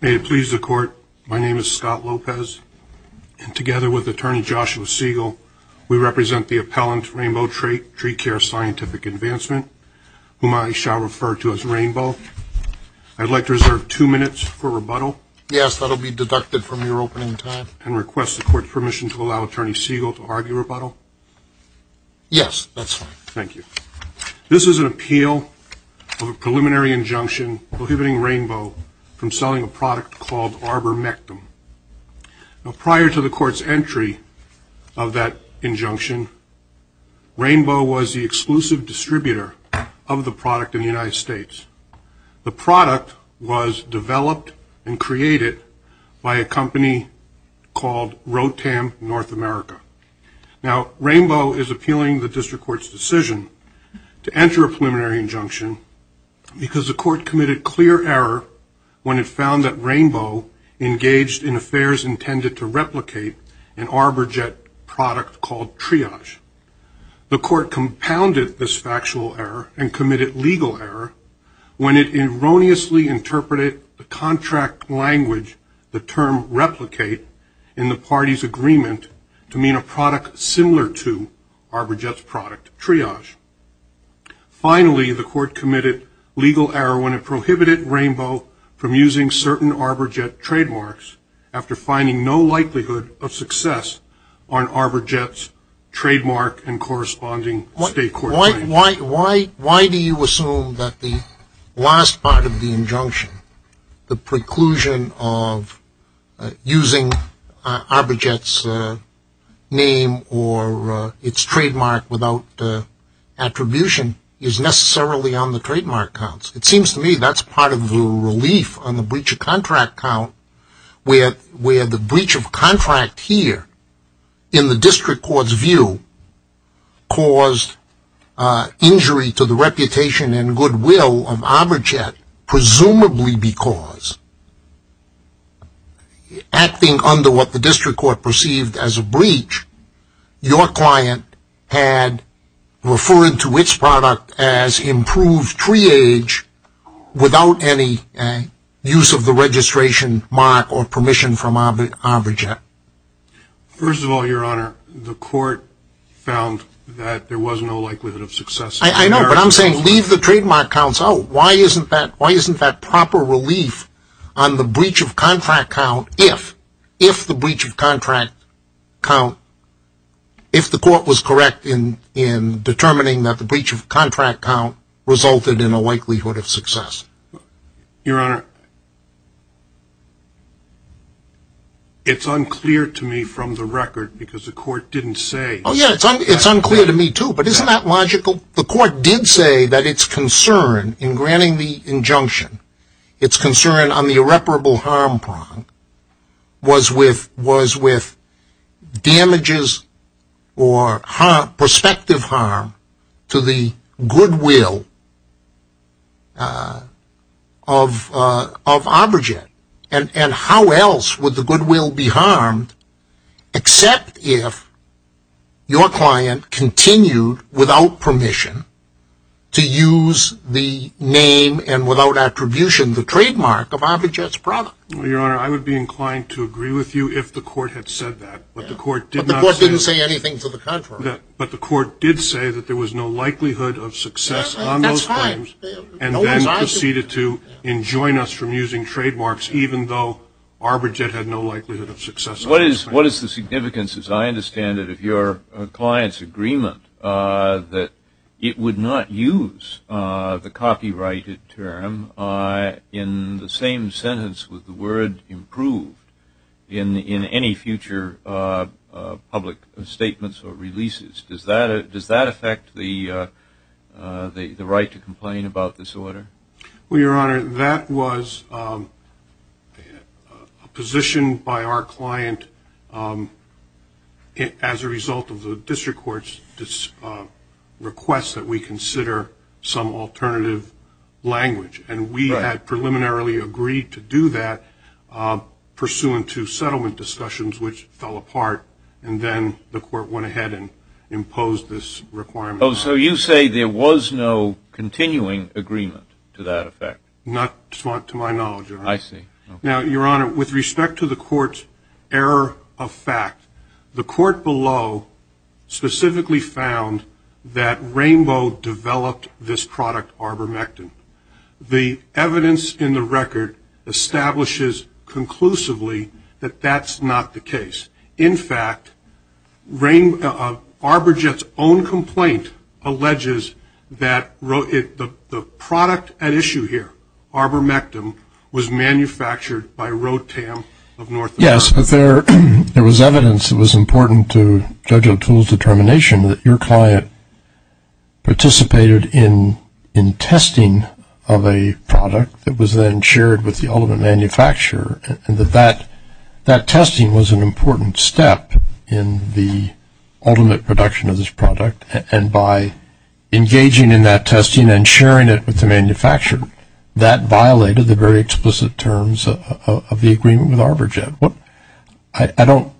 May it please the Court, my name is Scott Lopez, and together with Attorney Joshua Siegel, we represent the appellant Rainbow Treecare Scientific Advancement, whom I shall refer to as Rainbow. I'd like to reserve two minutes for rebuttal. Yes, that'll be deducted from your opening time. And request the Court's permission to allow Attorney Siegel to argue rebuttal. Yes, that's fine. Thank you. This is an appeal of a preliminary injunction prohibiting Rainbow from selling a product called ArborMectum. Now, prior to the Court's entry of that injunction, Rainbow was the exclusive distributor of the product in the United States. The product was developed and created by a company called Rotam North America. Now, Rainbow is appealing the District Court's decision to enter a preliminary injunction because the Court committed clear error when it found that Rainbow engaged in affairs intended to replicate an ArborJet product called Triage. The Court compounded this factual error and committed legal error when it erroneously interpreted the contract language, the term replicate, in the party's agreement to mean a product similar to ArborJet's product, Triage. Finally, the Court committed legal error when it prohibited Rainbow from using certain ArborJet trademarks after finding no likelihood of success on ArborJet's trademark and corresponding state court claims. Why do you assume that the last part of the injunction, the preclusion of using ArborJet's name or its trademark without attribution, is necessarily on the trademark counts? It is a breach of contract count where the breach of contract here, in the District Court's view, caused injury to the reputation and goodwill of ArborJet, presumably because, acting under what the District Court perceived as a breach, your client had referred to its product as improved Triage without any use of the registration mark or permission from ArborJet. First of all, Your Honor, the Court found that there was no likelihood of success. I know, but I'm saying leave the trademark counts out. Why isn't that, why isn't that proper relief on the breach of contract count if, if the breach of contract count, if the Court was correct in determining that the breach of contract count resulted in a likelihood of success? Your Honor, it's unclear to me from the record because the Court didn't say. Oh yeah, it's unclear to me too, but isn't that logical? The Court did say that its concern in granting the injunction, its concern on the irreparable harm prong, was with, was with damages or harm, prospective harm to the goodwill of, of ArborJet. And, and how else would the goodwill be harmed except if your client continued, without permission, to use the name and without attribution, the trademark of ArborJet's product. Your Honor, I would be inclined to agree with you if the Court had said that, but the Court did say that there was no likelihood of success on those claims, and then proceeded to enjoin us from using trademarks even though ArborJet had no likelihood of success on those claims. What is, what is the significance, as I understand it, of your client's agreement that it would not use the copyrighted term in the same sentence with the word improved in, in any future public statements or releases? Does that, does that affect the, the right to complain about this order? Well, Your Honor, that was a position by our client as a result of the district court's request that we consider some alternative language, and we had preliminarily agreed to do that pursuant to settlement discussions, which fell apart, and then the Court went ahead and imposed this requirement. Oh, so you say there was no continuing agreement to that effect? Not to my knowledge, Your Honor. I see. Now, Your Honor, with respect to the Court's error of fact, the Court below specifically found that Rainbow developed this product ArborMectin. The evidence in the record establishes conclusively that that's not the case. In fact, Rainbow, ArborJet's own complaint alleges that the product at issue here, ArborMectin, was manufactured by Rotam of North America. Yes, but there, there was evidence that was important to Judge O'Toole's determination that your client participated in, in testing of a product that was then shared with the ultimate manufacturer, and that that, that testing was an important step in the ultimate production of this product, and by engaging in that testing and sharing it with the manufacturer, that violated the very explicit terms of the agreement with ArborJet. What, I don't,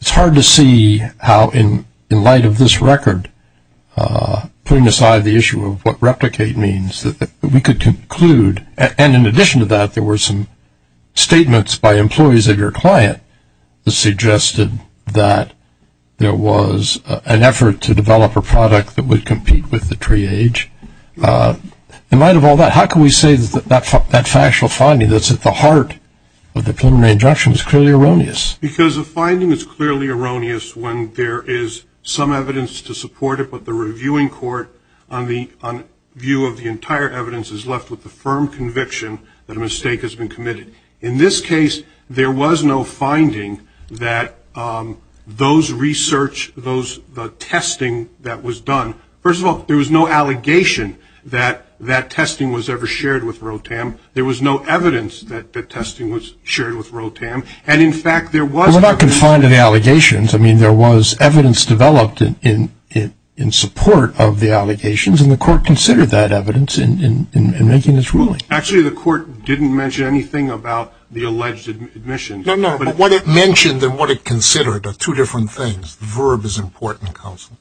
it's hard to see how in, in light of this record, putting aside the issue of what replicate means, that we could conclude, and in addition to that, there were some statements by employees of your client that suggested that there was an effort to develop a product that would compete with the triage. In light of all that, how can we say that, that, that factual finding that's at the heart of the preliminary injunction is clearly erroneous? Because the finding is clearly erroneous when there is some evidence to support it, but the reviewing court, on the, on view of the entire evidence, is left with the firm conviction that a mistake has been committed. In this case, there was no finding that those research, those, the testing that was done, first of all, there was no allegation that, that testing was ever shared with Rotam. There was no evidence that, that testing was shared with Rotam, and in fact, there was... We're not confined to the allegations. I mean, there was evidence developed in, in, in support of the allegations, and the court considered that evidence in, in, in making this ruling. Actually, the court didn't mention anything about the alleged admission. No, no, but what it mentioned and what it considered are two different things. Verb is important, counsel.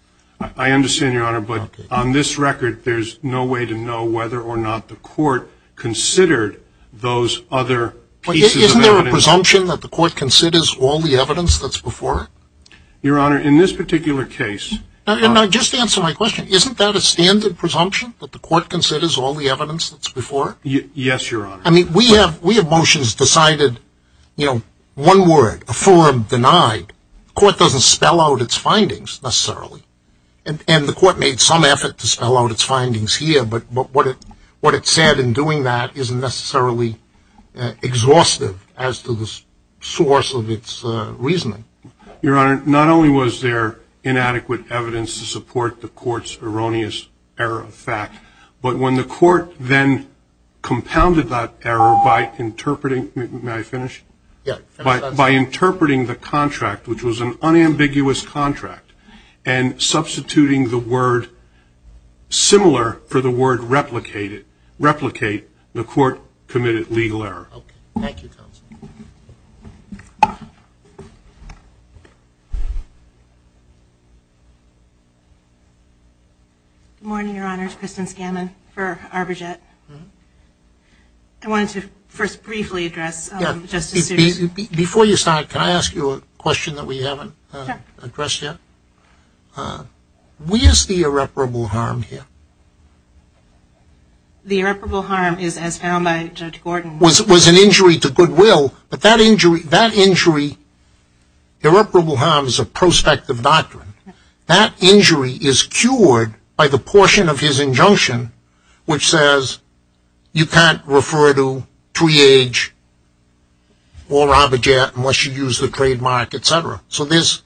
I understand, Your Honor, but on this record, there's no way to know whether or not the court considered those other pieces of evidence... Isn't there a presumption that the court considers all the evidence that's before it? Your Honor, in this particular case... Now, just answer my question. Isn't that a standard presumption, that the court considers all the evidence that's before it? Yes, Your Honor. I mean, we have, we have motions decided, you know, one word, affirmed, denied. Court doesn't spell out its findings, necessarily, and, and the court made some effort to spell out its findings here, but, but what it, what it said in doing that isn't necessarily exhaustive as to the source of its reasoning. Your Honor, not only was there inadequate evidence to support the court's erroneous error of fact, but when the court then compounded that error by interpreting... May I finish? Yeah. By, by interpreting the contract, which was an unambiguous contract, and substituting the word, similar for the word replicated, replicate, the court committed legal error. Good morning, Your Honor. It's Kristen Scammon for ArborJet. I wanted to first briefly address Justice Sotomayor's... Before you start, can I ask you a question that we haven't addressed yet? Where's the irreparable harm here? The irreparable harm is, as found by Judge Will, but that injury, that injury, irreparable harm is a prospective doctrine. That injury is cured by the portion of his injunction which says you can't refer to three-age or ArborJet unless you use the trademark, etc. So there's,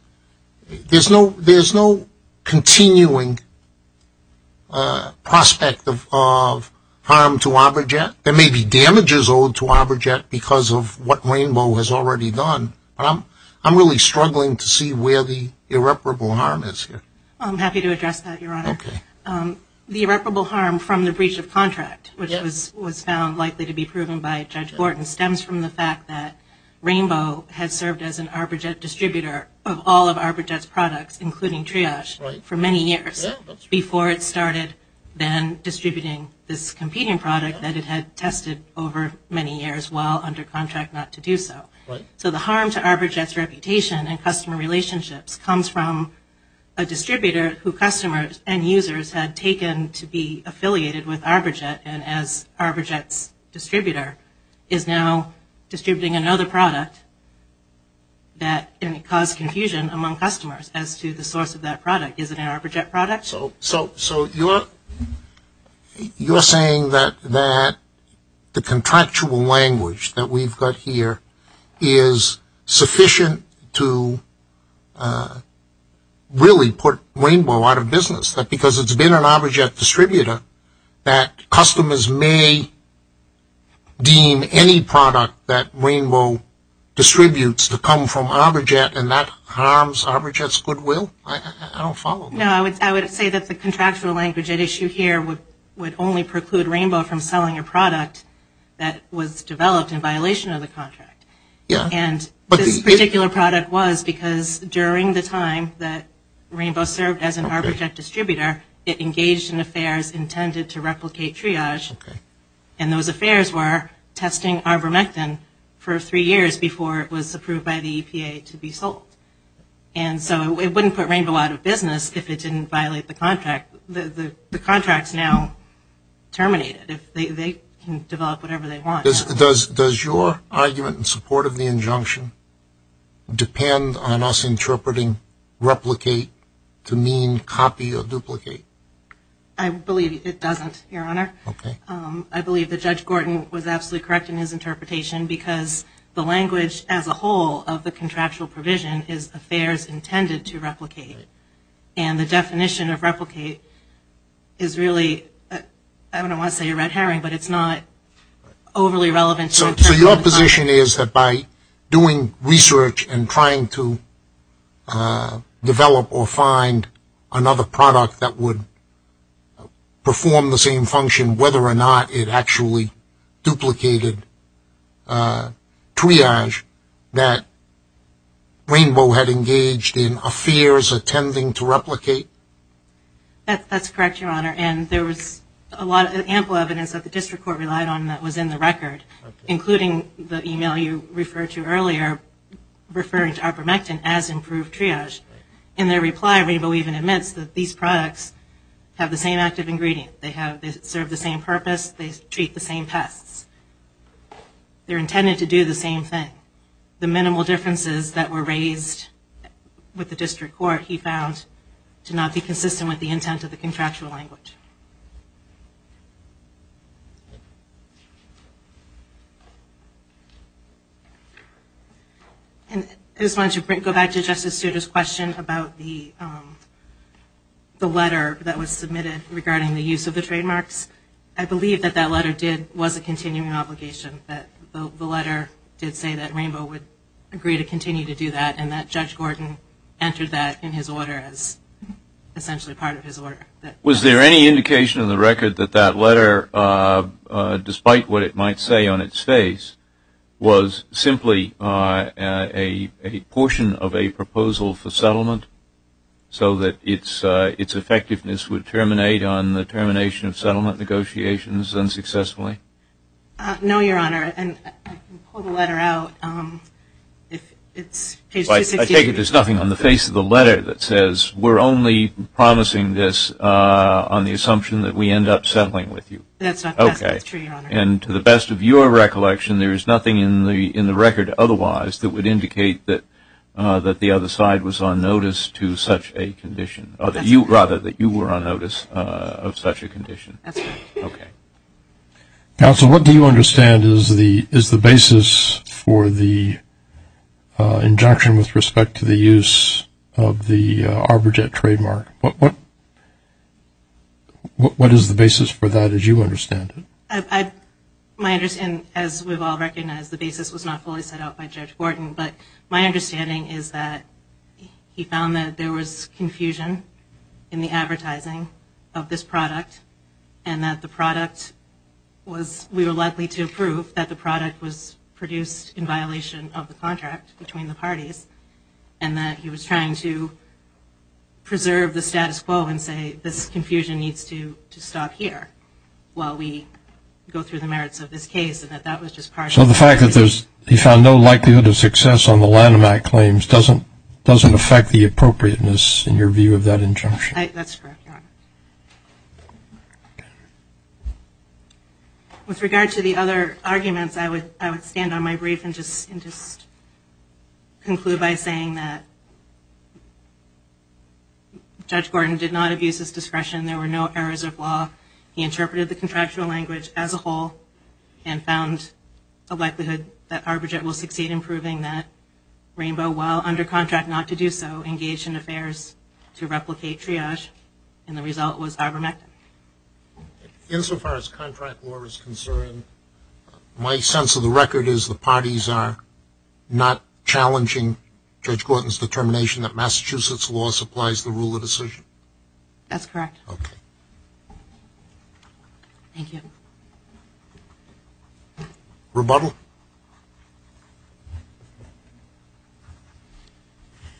there's no, there's no continuing prospect of, of harm to ArborJet. There may be damages owed to what Rainbow has already done, but I'm, I'm really struggling to see where the irreparable harm is here. I'm happy to address that, Your Honor. Okay. The irreparable harm from the breach of contract, which was, was found likely to be proven by Judge Borton, stems from the fact that Rainbow has served as an ArborJet distributor of all of ArborJet's products, including triage, for many years before it started then distributing this competing product that it had tested over many years while under contract. Not to do so. Right. So the harm to ArborJet's reputation and customer relationships comes from a distributor who customers and users had taken to be affiliated with ArborJet and as ArborJet's distributor is now distributing another product that caused confusion among customers as to the source of that product. Is it an ArborJet product? So, so, so you're, you're saying that, that the contractual language that we've got here is sufficient to really put Rainbow out of business? That because it's been an ArborJet distributor that customers may deem any product that Rainbow distributes to come from ArborJet and that harms ArborJet's goodwill? I don't follow. No, I would, I would say that the contractual language at issue here would, would only preclude Rainbow from selling a product that was developed in violation of the contract. Yeah. And this particular product was because during the time that Rainbow served as an ArborJet distributor, it engaged in affairs intended to replicate triage. Okay. And those affairs were testing ArborMectin for three years before it was approved by the EPA to be sold. And so it wouldn't put Rainbow out of business if it didn't violate the contract. The, the, the contract's now terminated. If they, they can develop whatever they want. Does, does, does your argument in support of the injunction depend on us interpreting replicate to mean copy or duplicate? I believe it doesn't, Your Honor. Okay. I believe that Judge Gorton was absolutely correct in his interpretation because the language as a whole of the contractual provision is affairs intended to replicate. And the definition of replicate is really, I don't want to say a red herring, but it's not overly relevant. So, so your position is that by doing research and trying to develop or find another product that would perform the same function, whether or not it actually duplicated triage, that Rainbow had engaged in affairs intending to replicate? That, that's correct, Your Honor. And there was a lot of ample evidence that the district court relied on that was in the record, including the email you referred to earlier, referring to ArborMectin as improved triage. In their reply, Rainbow even admits that these products have the same active ingredient. They have, they serve the same purpose. They treat the same pests. They're intended to do the same thing. The minimal differences that were raised with the district court he found to not be consistent with the intent of the contractual language. I just wanted to go back to Justice Souter's question about the letter that was submitted regarding the use of the trademarks. I believe that that letter did, was a continuing obligation. That the letter did say that Rainbow would agree to continue to do that and that Judge Gorton entered that in his order as essentially part of his order. Was there any indication in the record that that letter, despite what it might say on its face, was simply a portion of a proposal for settlement so that its effectiveness would terminate on the termination of settlement negotiations unsuccessfully? No, Your Honor. I can pull the letter out. It's page 268. I take it there's nothing on the face of the letter that says we're only promising this on the assumption that we end up settling with you. That's not true, Your Honor. Counsel, what do you understand is the basis for the injunction with respect to the use of the ArborJet trademark? What is the basis for that as you understand it? My understanding, as we've all recognized, the basis was not fully set out by Judge Gorton, but my understanding is that he found that there was confusion in the advertising of this product. And that the product was, we were likely to prove that the product was produced in violation of the contract between the parties. And that he was trying to preserve the status quo and say this confusion needs to stop here while we go through the merits of this case. So the fact that he found no likelihood of success on the Lanham Act claims doesn't affect the appropriateness in your view of that injunction? That's correct, Your Honor. With regard to the other arguments, I would stand on my brief and just conclude by saying that Judge Gorton did not abuse his discretion. There were no errors of law. He interpreted the contractual language as a whole and found a likelihood that ArborJet will succeed in proving that Rainbow, while under contract not to do so, engaged in affairs to replicate triage. And the result was ArborMech. Insofar as contract law is concerned, my sense of the record is the parties are not challenging Judge Gorton's determination that Massachusetts law supplies the rule of decision? That's correct. Okay. Thank you. Rebuttal?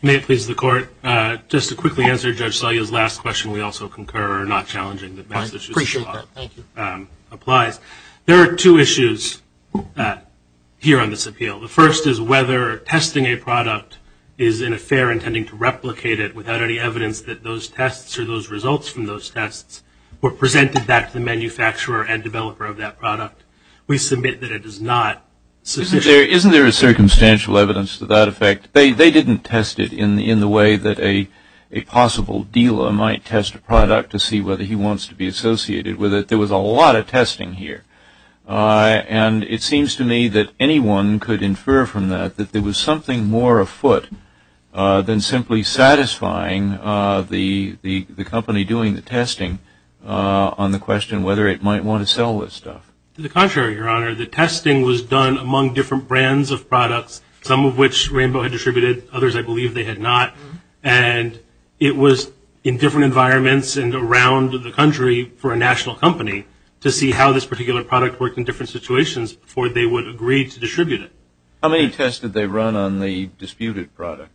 May it please the Court, just to quickly answer Judge Salyer's last question, we also concur not challenging that Massachusetts law applies. I appreciate that. Thank you. There are two issues here on this appeal. The first is whether testing a product is an affair intending to replicate it without any evidence that those tests or those results from those tests were presented back to the manufacturer and developer of that product. We submit that it is not sufficient. Isn't there a circumstantial evidence to that effect? They didn't test it in the way that a possible dealer might test a product to see whether he wants to be associated with it. There was a lot of testing here. And it seems to me that anyone could infer from that that there was something more afoot than simply satisfying the company doing the testing on the question whether it might want to sell this stuff. To the contrary, Your Honor. The testing was done among different brands of products, some of which Rainbow had distributed, others I believe they had not. And it was in different environments and around the country for a national company to see how this particular product worked in different situations before they would agree to distribute it. How many tests did they run on the disputed product?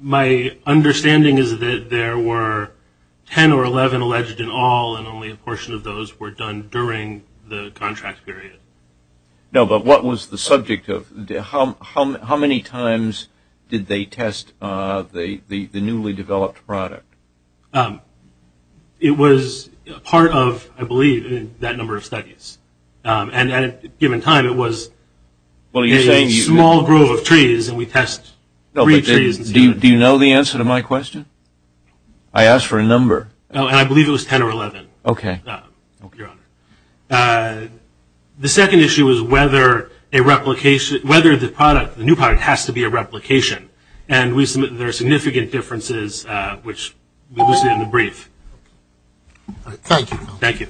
My understanding is that there were 10 or 11 alleged in all and only a portion of those were done during the contract period. No, but what was the subject of, how many times did they test the newly developed product? It was part of, I believe, that number of studies. And at a given time it was a small group of trees and we test three trees. Do you know the answer to my question? I asked for a number. Oh, and I believe it was 10 or 11. Okay. The second issue was whether a replication, whether the product, the new product has to be a replication. And there are significant differences, which we will see in the brief. Thank you. Thank you.